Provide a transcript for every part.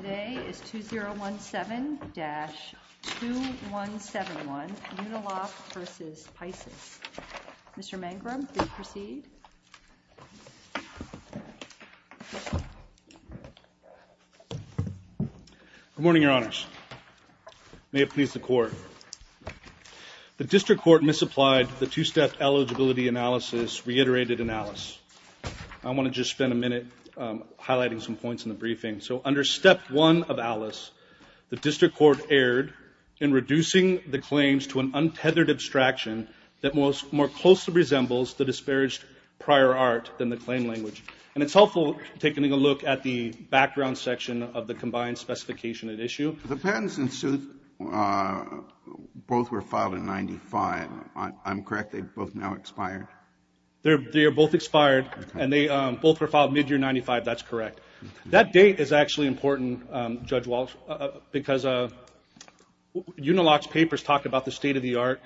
Today is 2017-2171 Uniloc v. Picis. Mr. Mangrum, please proceed. Good morning, Your Honors. May it please the Court. The District Court misapplied the two-step eligibility analysis reiterated analysis. I want to just spend a minute highlighting some points in the briefing. So under Step 1 of ALICE, the District Court erred in reducing the claims to an untethered abstraction that more closely resembles the disparaged prior art than the claim language. And it's helpful taking a look at the background section of the combined specification at issue. The patents and suits both were filed in 1995. I'm correct, they've both now expired? They are both expired, and they both were filed mid-year 1995, that's correct. That date is actually important, Judge Walsh, because Uniloc's papers talk about the state-of-the-art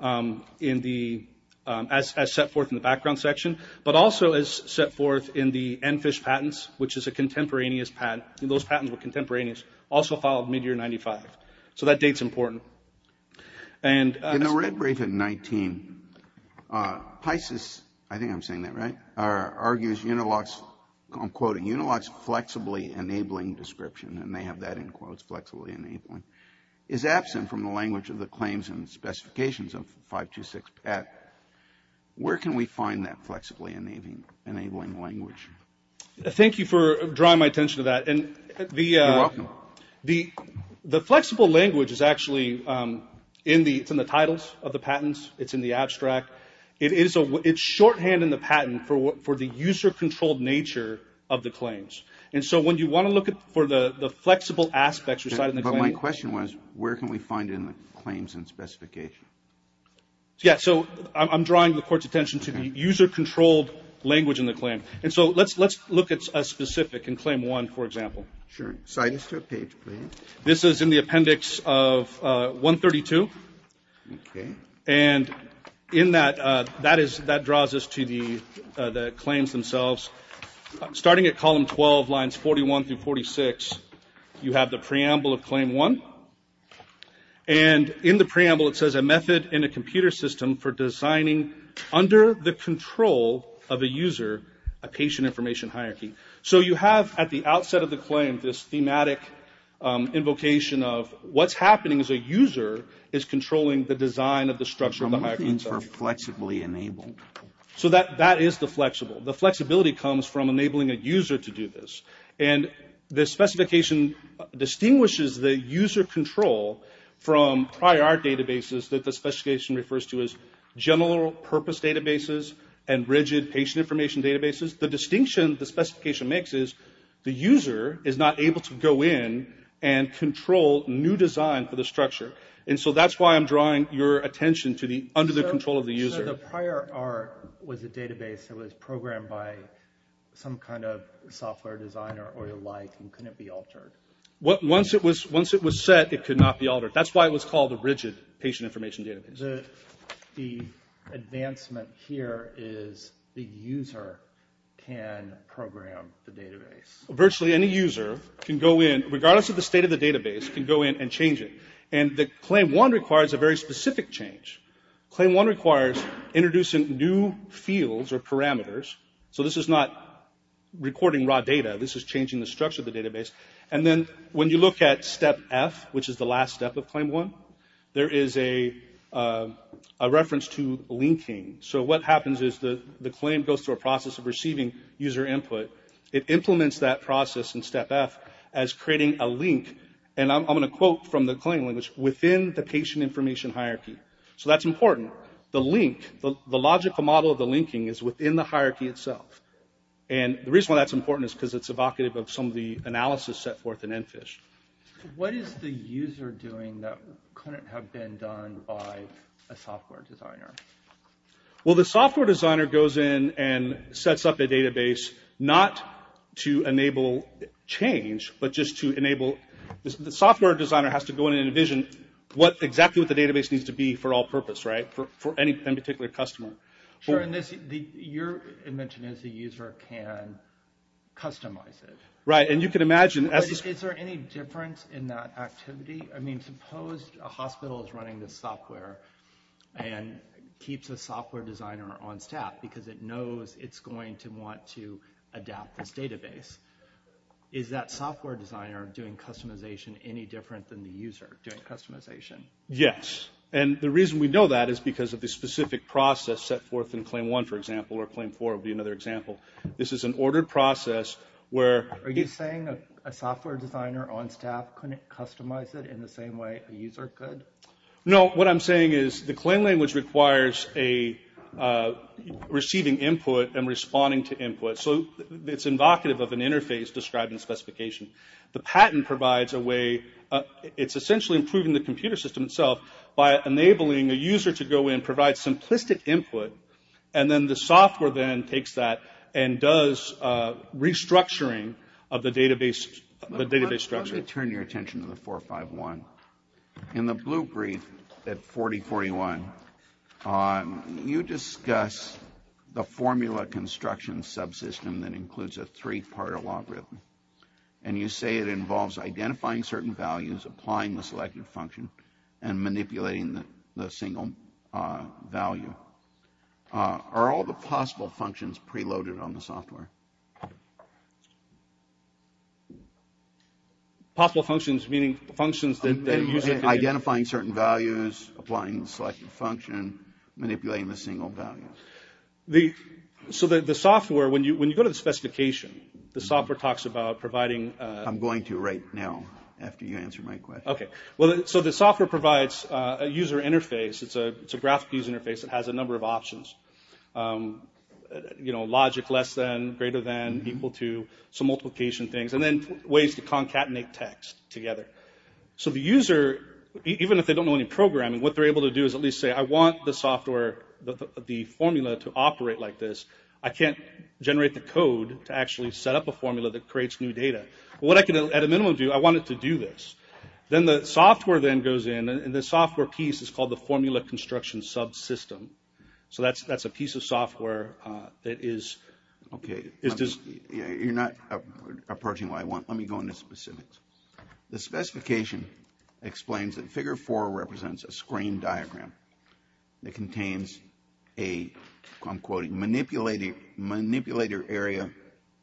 as set forth in the background section, but also as set forth in the EnFISH patents, which is a contemporaneous patent, and those patents were contemporaneous, also filed mid-year 1995. So that date's important. In the red brief in 19, Pisces, I think I'm saying that right, argues Uniloc's, I'm quoting, Uniloc's flexibly enabling description, and they have that in quotes, flexibly enabling, is absent from the language of the claims and specifications of 526PAT. Where can we find that flexibly enabling language? Thank you for drawing my attention to that. You're welcome. The flexible language is actually in the titles of the patents. It's in the abstract. It's shorthand in the patent for the user-controlled nature of the claims. And so when you want to look for the flexible aspects residing in the claim… But my question was, where can we find it in the claims and specification? Yeah, so I'm drawing the Court's attention to the user-controlled language in the claim. And so let's look at a specific in Claim 1, for example. Sure, cite us to a page, please. This is in the appendix of 132. Okay. And in that, that draws us to the claims themselves. Starting at column 12, lines 41 through 46, you have the preamble of Claim 1. And in the preamble, it says, A method in a computer system for designing under the control of a user a patient information hierarchy. So you have, at the outset of the claim, this thematic invocation of what's happening is a user is controlling the design of the structure of the hierarchy. Flexibly enabled. So that is the flexible. The flexibility comes from enabling a user to do this. And the specification distinguishes the user control from prior databases that the specification refers to as general-purpose databases and rigid patient information databases. The distinction the specification makes is the user is not able to go in and control new design for the structure. And so that's why I'm drawing your attention to the under the control of the user. So the prior art was a database that was programmed by some kind of software designer or the like, and couldn't be altered. Once it was set, it could not be altered. That's why it was called a rigid patient information database. The advancement here is the user can program the database. Virtually any user can go in, regardless of the state of the database, can go in and change it. And the Claim 1 requires a very specific change. Claim 1 requires introducing new fields or parameters. So this is not recording raw data. This is changing the structure of the database. And then when you look at Step F, which is the last step of Claim 1, there is a reference to linking. So what happens is the claim goes through a process of receiving user input. It implements that process in Step F as creating a link, and I'm going to quote from the claim language, within the patient information hierarchy. So that's important. The link, the logical model of the linking is within the hierarchy itself. And the reason why that's important is because it's evocative of some of the analysis set forth in ENFISH. What is the user doing that couldn't have been done by a software designer? Well, the software designer goes in and sets up a database not to enable change, but just to enable the software designer has to go in and envision what exactly what the database needs to be for all purpose, right? For any particular customer. Sure, and your invention is the user can customize it. Right, and you can imagine. Is there any difference in that activity? I mean, suppose a hospital is running this software and keeps a software designer on staff because it knows it's going to want to adapt this database. Is that software designer doing customization any different than the user doing customization? Yes, and the reason we know that is because of the specific process set forth in Claim 1, for example, or Claim 4 would be another example. This is an ordered process where... Are you saying a software designer on staff couldn't customize it in the same way a user could? No, what I'm saying is the claim language requires receiving input and responding to input. So it's evocative of an interface describing specification. The patent provides a way, it's essentially improving the computer system itself by enabling a user to go in and provide simplistic input and then the software then takes that and does restructuring of the database structure. Let me turn your attention to the 451. In the blue brief at 4041, you discuss the formula construction subsystem that includes a three-part algorithm, and you say it involves identifying certain values, applying the selected function, and manipulating the single value. Are all the possible functions preloaded on the software? Possible functions meaning functions that the user can... Identifying certain values, applying the selected function, manipulating the single value. So the software, when you go to the specification, the software talks about providing... I'm going to right now after you answer my question. Okay, so the software provides a user interface. It's a graphical user interface that has a number of options. You know, logic less than, greater than, equal to, some multiplication things, and then ways to concatenate text together. So the user, even if they don't know any programming, what they're able to do is at least say I want the software, the formula to operate like this. I can't generate the code to actually set up a formula that creates new data. What I can at a minimum do, I want it to do this. Then the software then goes in, and the software piece is called the formula construction subsystem. So that's a piece of software that is... Okay, you're not approaching what I want. Let me go into specifics. The specification explains that figure four represents a screen diagram that contains a, I'm quoting, manipulator area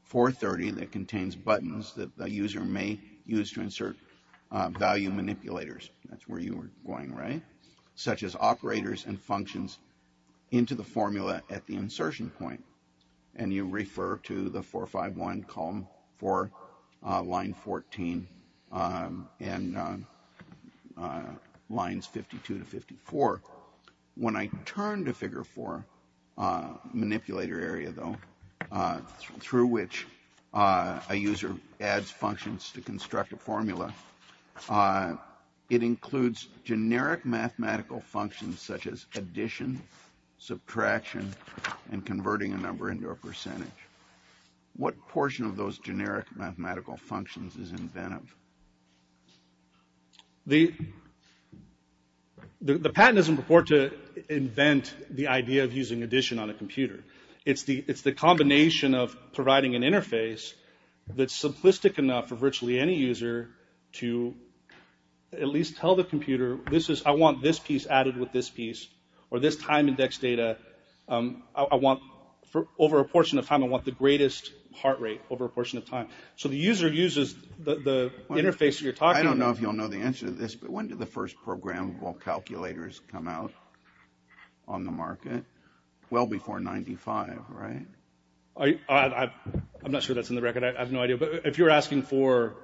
430 that contains buttons that the user may use to insert value manipulators. That's where you were going, right? Such as operators and functions into the formula at the insertion point. And you refer to the 451 column for line 14 and lines 52 to 54. When I turn to figure four manipulator area though, through which a user adds functions to construct a formula, it includes generic mathematical functions such as addition, subtraction, and converting a number into a percentage. What portion of those generic mathematical functions is inventive? The patent doesn't report to invent the idea of using addition on a computer. It's the combination of providing an interface that's simplistic enough for virtually any user to at least tell the computer, I want this piece added with this piece or this time index data. Over a portion of time, I want the greatest heart rate over a portion of time. So the user uses the interface that you're talking about. I don't know if you'll know the answer to this, but when did the first programmable calculators come out on the market? Well before 95, right? I'm not sure that's in the record. I have no idea, but if you're asking for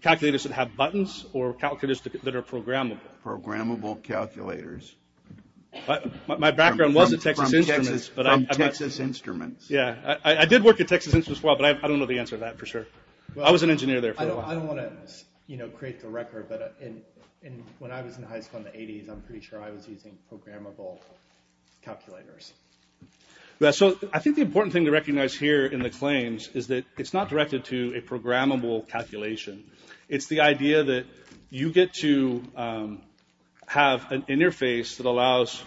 calculators that have buttons or calculators that are programmable. Programmable calculators. My background was in Texas Instruments. From Texas Instruments. Yeah, I did work at Texas Instruments for a while, but I don't know the answer to that for sure. I was an engineer there for a while. I don't want to, you know, create the record, but when I was in high school in the 80s, I'm pretty sure I was using programmable calculators. So I think the important thing to recognize here in the claims is that it's not directed to a programmable calculation. It's the idea that you get to have an interface that allows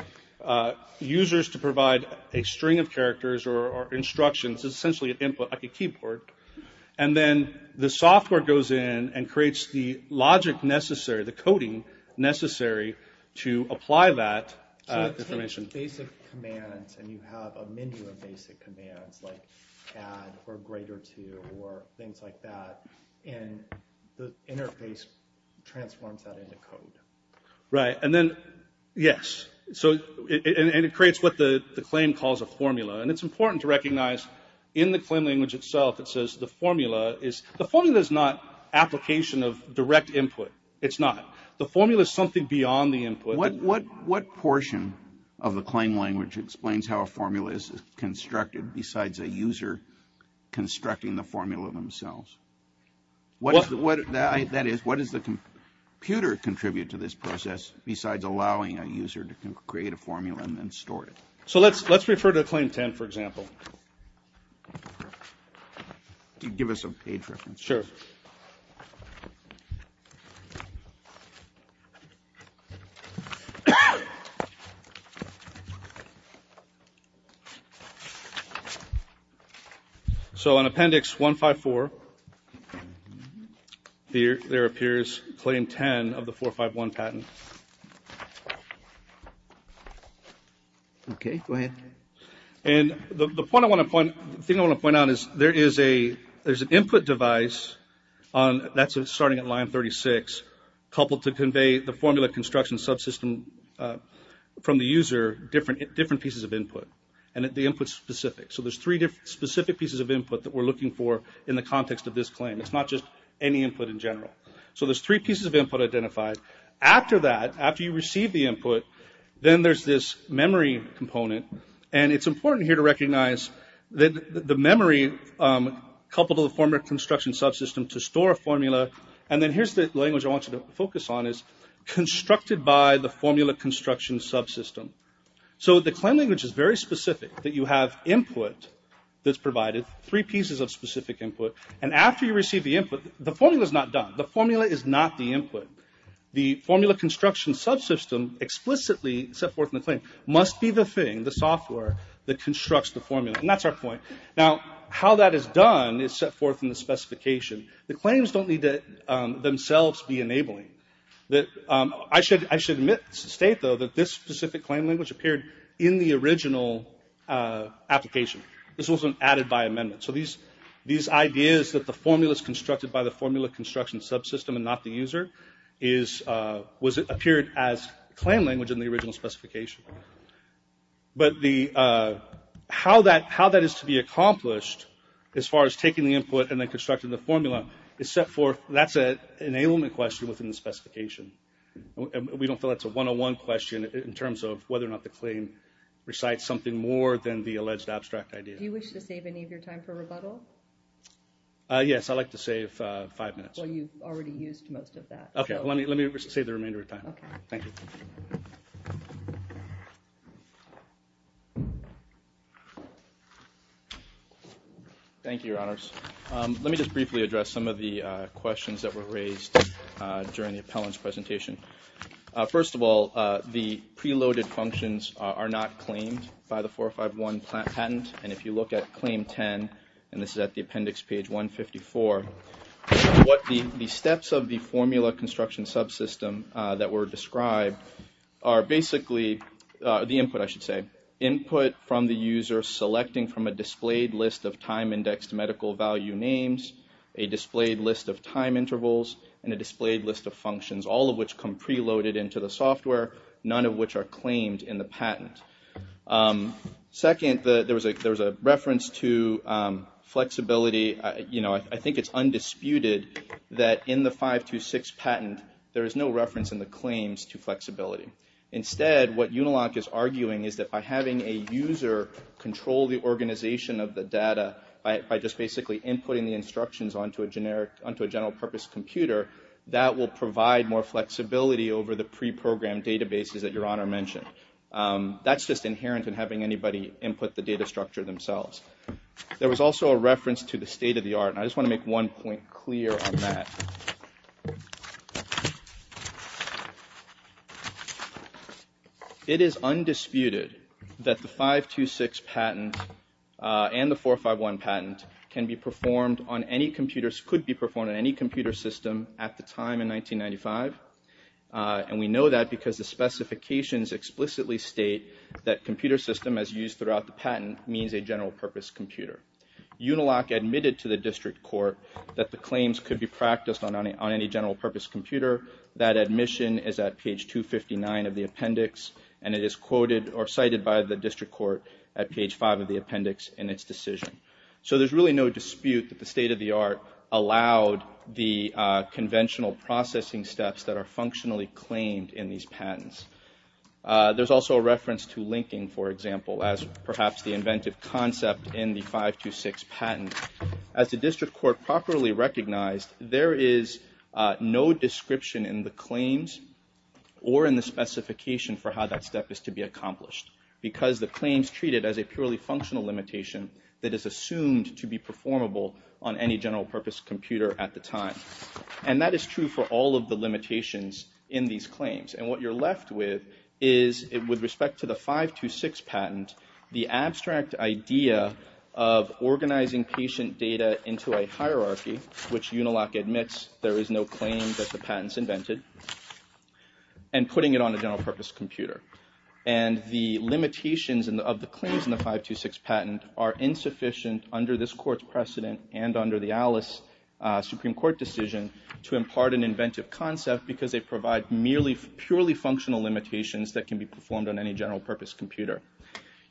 users to provide a string of characters or instructions. It's essentially an input, like a keyboard, and then the software goes in and creates the logic necessary, the coding necessary to apply that information. So it takes basic commands and you have a menu of basic commands, like add or greater to or things like that, and the interface transforms that into code. Right, and then, yes, and it creates what the claim calls a formula, and it's important to recognize in the claim language itself, it says the formula is not application of direct input. It's not. The formula is something beyond the input. What portion of the claim language explains how a formula is constructed besides a user constructing the formula themselves? That is, what does the computer contribute to this process besides allowing a user to create a formula and then store it? So let's refer to Claim 10, for example. Can you give us a page reference? Sure. So in Appendix 154, there appears Claim 10 of the 451 patent. Okay, go ahead. And the thing I want to point out is there is an input device, that's starting at line 36, coupled to convey the formula construction subsystem from the user, different pieces of input, and the input's specific. So there's three specific pieces of input that we're looking for in the context of this claim. It's not just any input in general. So there's three pieces of input identified. After that, after you receive the input, then there's this memory component, and it's important here to recognize that the memory, coupled to the formula construction subsystem to store a formula, and then here's the language I want you to focus on, is constructed by the formula construction subsystem. So the claim language is very specific, that you have input that's provided, three pieces of specific input, and after you receive the input, the formula's not done. The formula is not the input. The formula construction subsystem explicitly set forth in the claim must be the thing, the software, that constructs the formula. And that's our point. Now, how that is done is set forth in the specification. The claims don't need to themselves be enabling. I should admit, state though, that this specific claim language appeared in the original application. This wasn't added by amendment. So these ideas that the formula's constructed by the formula construction subsystem and not the user appeared as claim language in the original specification. But how that is to be accomplished, as far as taking the input and then constructing the formula, is set forth, that's an enablement question within the specification. We don't feel that's a one-on-one question in terms of whether or not the claim recites something more than the alleged abstract idea. Do you wish to save any of your time for rebuttal? Yes, I'd like to save five minutes. Well, you've already used most of that. Okay, let me save the remainder of time. Thank you. Thank you, Your Honors. Let me just briefly address some of the questions that were raised during the appellant's presentation. First of all, the preloaded functions are not claimed by the 451 patent. And if you look at claim 10, and this is at the appendix page 154, the steps of the formula construction subsystem that were described are basically the input, I should say. Input from the user selecting from a displayed list of time-indexed medical value names, a displayed list of time intervals, and a displayed list of functions, all of which come preloaded into the software, none of which are claimed in the patent. Second, there was a reference to flexibility. I think it's undisputed that in the 526 patent, there is no reference in the claims to flexibility. Instead, what Unilock is arguing is that by having a user control the organization of the data by just basically inputting the instructions onto a general-purpose computer, that will provide more flexibility over the preprogrammed databases that Your Honor mentioned. That's just inherent in having anybody input the data structure themselves. There was also a reference to the state-of-the-art, and I just want to make one point clear on that. It is undisputed that the 526 patent and the 451 patent could be performed on any computer system at the time in 1995, and we know that because the specifications explicitly state that computer system as used throughout the patent means a general-purpose computer. Unilock admitted to the district court that the claims could be practiced on any general-purpose computer. That admission is at page 259 of the appendix, and it is quoted or cited by the district court at page 5 of the appendix in its decision. So there's really no dispute that the state-of-the-art allowed the conventional processing steps that are functionally claimed in these patents. There's also a reference to linking, for example, as perhaps the inventive concept in the 526 patent. As the district court properly recognized, there is no description in the claims or in the specification for how that step is to be accomplished because the claims treat it as a purely functional limitation that is assumed to be performable on any general-purpose computer at the time. And that is true for all of the limitations in these claims, and what you're left with is, with respect to the 526 patent, the abstract idea of organizing patient data into a hierarchy, which Unilock admits there is no claim that the patent's invented, and putting it on a general-purpose computer. And the limitations of the claims in the 526 patent are insufficient under this court's precedent and under the Alice Supreme Court decision to impart an inventive concept because they provide purely functional limitations that can be performed on any general-purpose computer.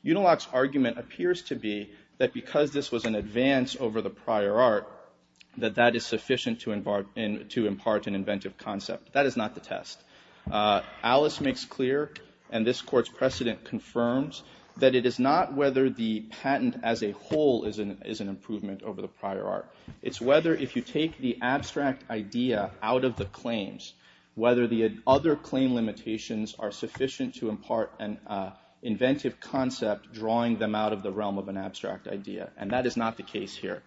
Unilock's argument appears to be that because this was an advance over the prior art, that that is sufficient to impart an inventive concept. That is not the test. Alice makes clear, and this court's precedent confirms, that it is not whether the patent as a whole is an improvement over the prior art. It's whether if you take the abstract idea out of the claims, whether the other claim limitations are sufficient to impart an inventive concept drawing them out of the realm of an abstract idea. And that is not the case here.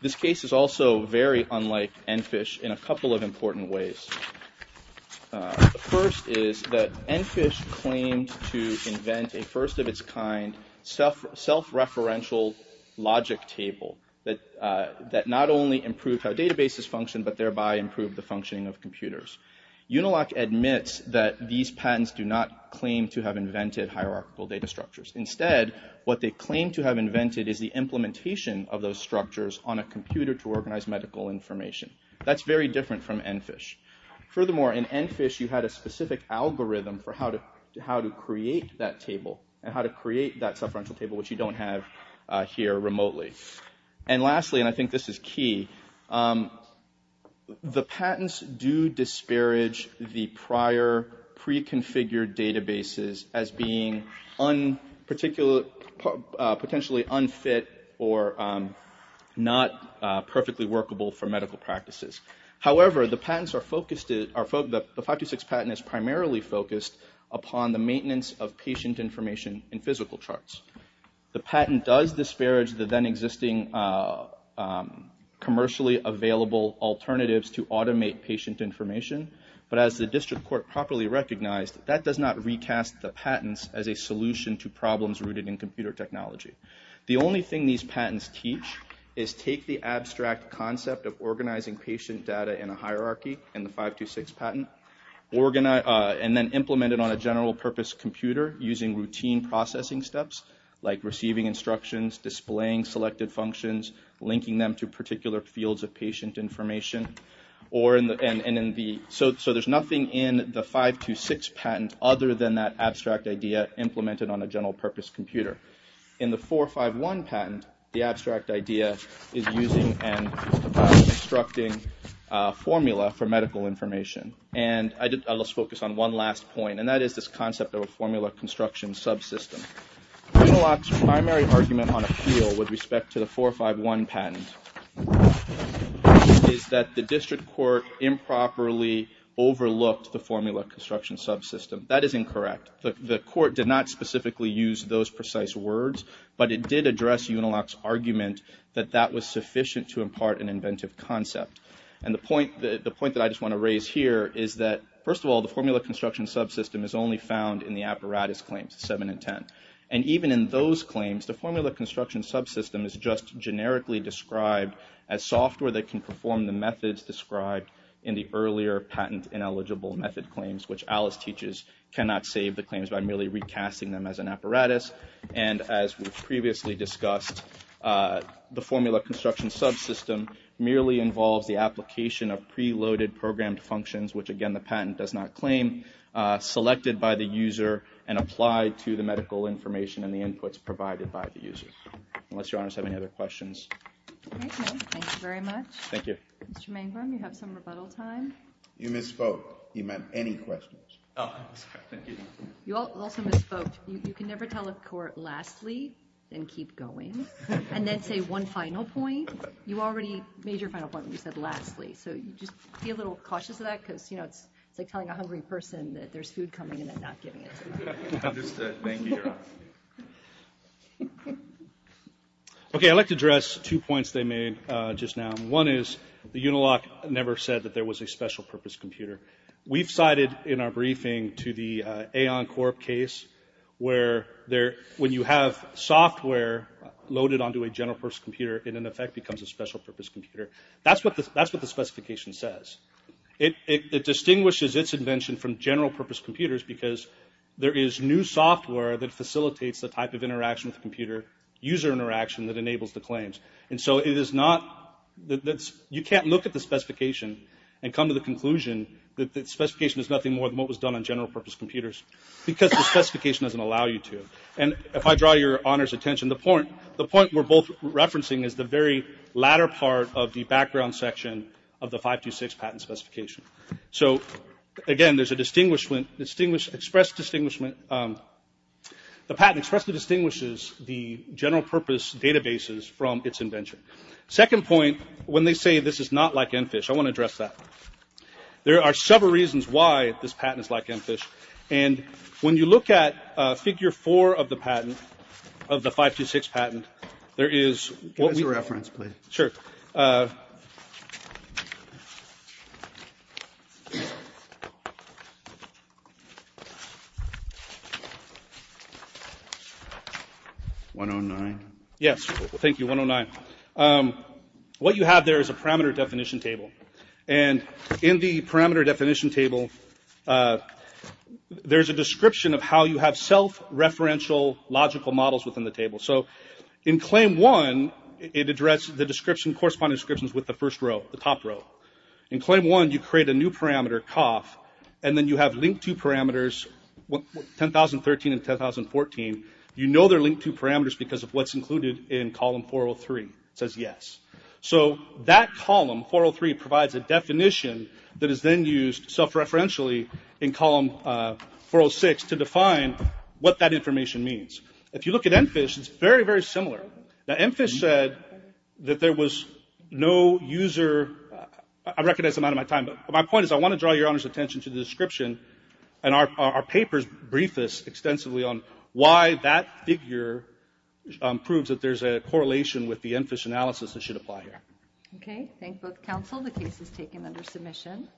This case is also very unlike Enfish in a couple of important ways. The first is that Enfish claimed to invent a first-of-its-kind self-referential logic table that not only improved how databases function, but thereby improved the functioning of computers. Unilock admits that these patents do not claim to have invented hierarchical data structures. Instead, what they claim to have invented is the implementation of those structures on a computer to organize medical information. That's very different from Enfish. Furthermore, in Enfish, you had a specific algorithm for how to create that table, and how to create that self-referential table, which you don't have here remotely. And lastly, and I think this is key, the patents do disparage the prior pre-configured databases as being potentially unfit or not perfectly workable for medical practices. However, the 526 patent is primarily focused upon the maintenance of patient information in physical charts. The patent does disparage the then-existing commercially available alternatives to automate patient information, but as the district court properly recognized, that does not recast the patents as a solution to problems rooted in computer technology. The only thing these patents teach is take the abstract concept of organizing patient data in a hierarchy in the 526 patent, and then implement it on a general-purpose computer using routine processing steps, like receiving instructions, displaying selected functions, linking them to particular fields of patient information. So there's nothing in the 526 patent other than that abstract idea implemented on a general-purpose computer. In the 451 patent, the abstract idea is using and constructing formula for medical information. And let's focus on one last point, and that is this concept of a formula construction subsystem. Unilock's primary argument on appeal with respect to the 451 patent is that the district court improperly overlooked the formula construction subsystem. That is incorrect. The court did not specifically use those precise words, but it did address Unilock's argument that that was sufficient to impart an inventive concept. And the point that I just want to raise here is that, first of all, the formula construction subsystem is only found in the apparatus claims, 7 and 10. And even in those claims, the formula construction subsystem is just generically described as software that can perform the methods described in the earlier patent-ineligible method claims, which Alice teaches cannot save the claims by merely recasting them as an apparatus. And as we've previously discussed, the formula construction subsystem merely involves the application of preloaded programmed functions, which, again, the patent does not claim, selected by the user and applied to the medical information and the inputs provided by the user. Unless Your Honors have any other questions. Thank you. Thank you very much. Thank you. Mr. Mangrum, you have some rebuttal time. You misspoke. He meant any questions. Oh, I'm sorry. Thank you. You also misspoke. You can never tell a court, lastly, then keep going, and then say one final point. You already made your final point when you said lastly, so just be a little cautious of that because, you know, it's like telling a hungry person that there's food coming and then not getting it. Understood. Thank you, Your Honor. Okay, I'd like to address two points they made just now. One is the Unilock never said that there was a special-purpose computer. We've cited in our briefing to the Aon Corp case where when you have software loaded onto a general-purpose computer, it in effect becomes a special-purpose computer. That's what the specification says. It distinguishes its invention from general-purpose computers because there is new software that facilitates the type of interaction with the computer, user interaction that enables the claims. And so it is not... You can't look at the specification and come to the conclusion that the specification is nothing more than what was done on general-purpose computers because the specification doesn't allow you to. And if I draw Your Honor's attention, the point we're both referencing is the very latter part of the background section of the 526 patent specification. So, again, there's a distinguished... express distinguishment. The patent expressly distinguishes the general-purpose databases from its invention. Second point, when they say this is not like ENFISH, I want to address that. There are several reasons why this patent is like ENFISH. And when you look at Figure 4 of the patent, of the 526 patent, there is... Give us a reference, please. Sure. 109. Yes, thank you, 109. What you have there is a parameter definition table. And in the parameter definition table, there's a description of how you have self-referential logical models within the table. So, in Claim 1, it addresses the description, corresponding descriptions with the first row, the top row. In Claim 1, you create a new parameter, COF, and then you have link-to parameters, 10013 and 10014. You know they're link-to parameters because of what's included in Column 403. It says yes. So, that column, 403, provides a definition that is then used self-referentially in Column 406 to define what that information means. If you look at ENFISH, it's very, very similar. Now, ENFISH said that there was no user... I recognize I'm out of my time, but my point is I want to draw Your Honor's attention to the description. And our papers brief us extensively on why that figure proves that there's a correlation with the ENFISH analysis that should apply here. Okay. Thank both counsel. The case is taken under submission.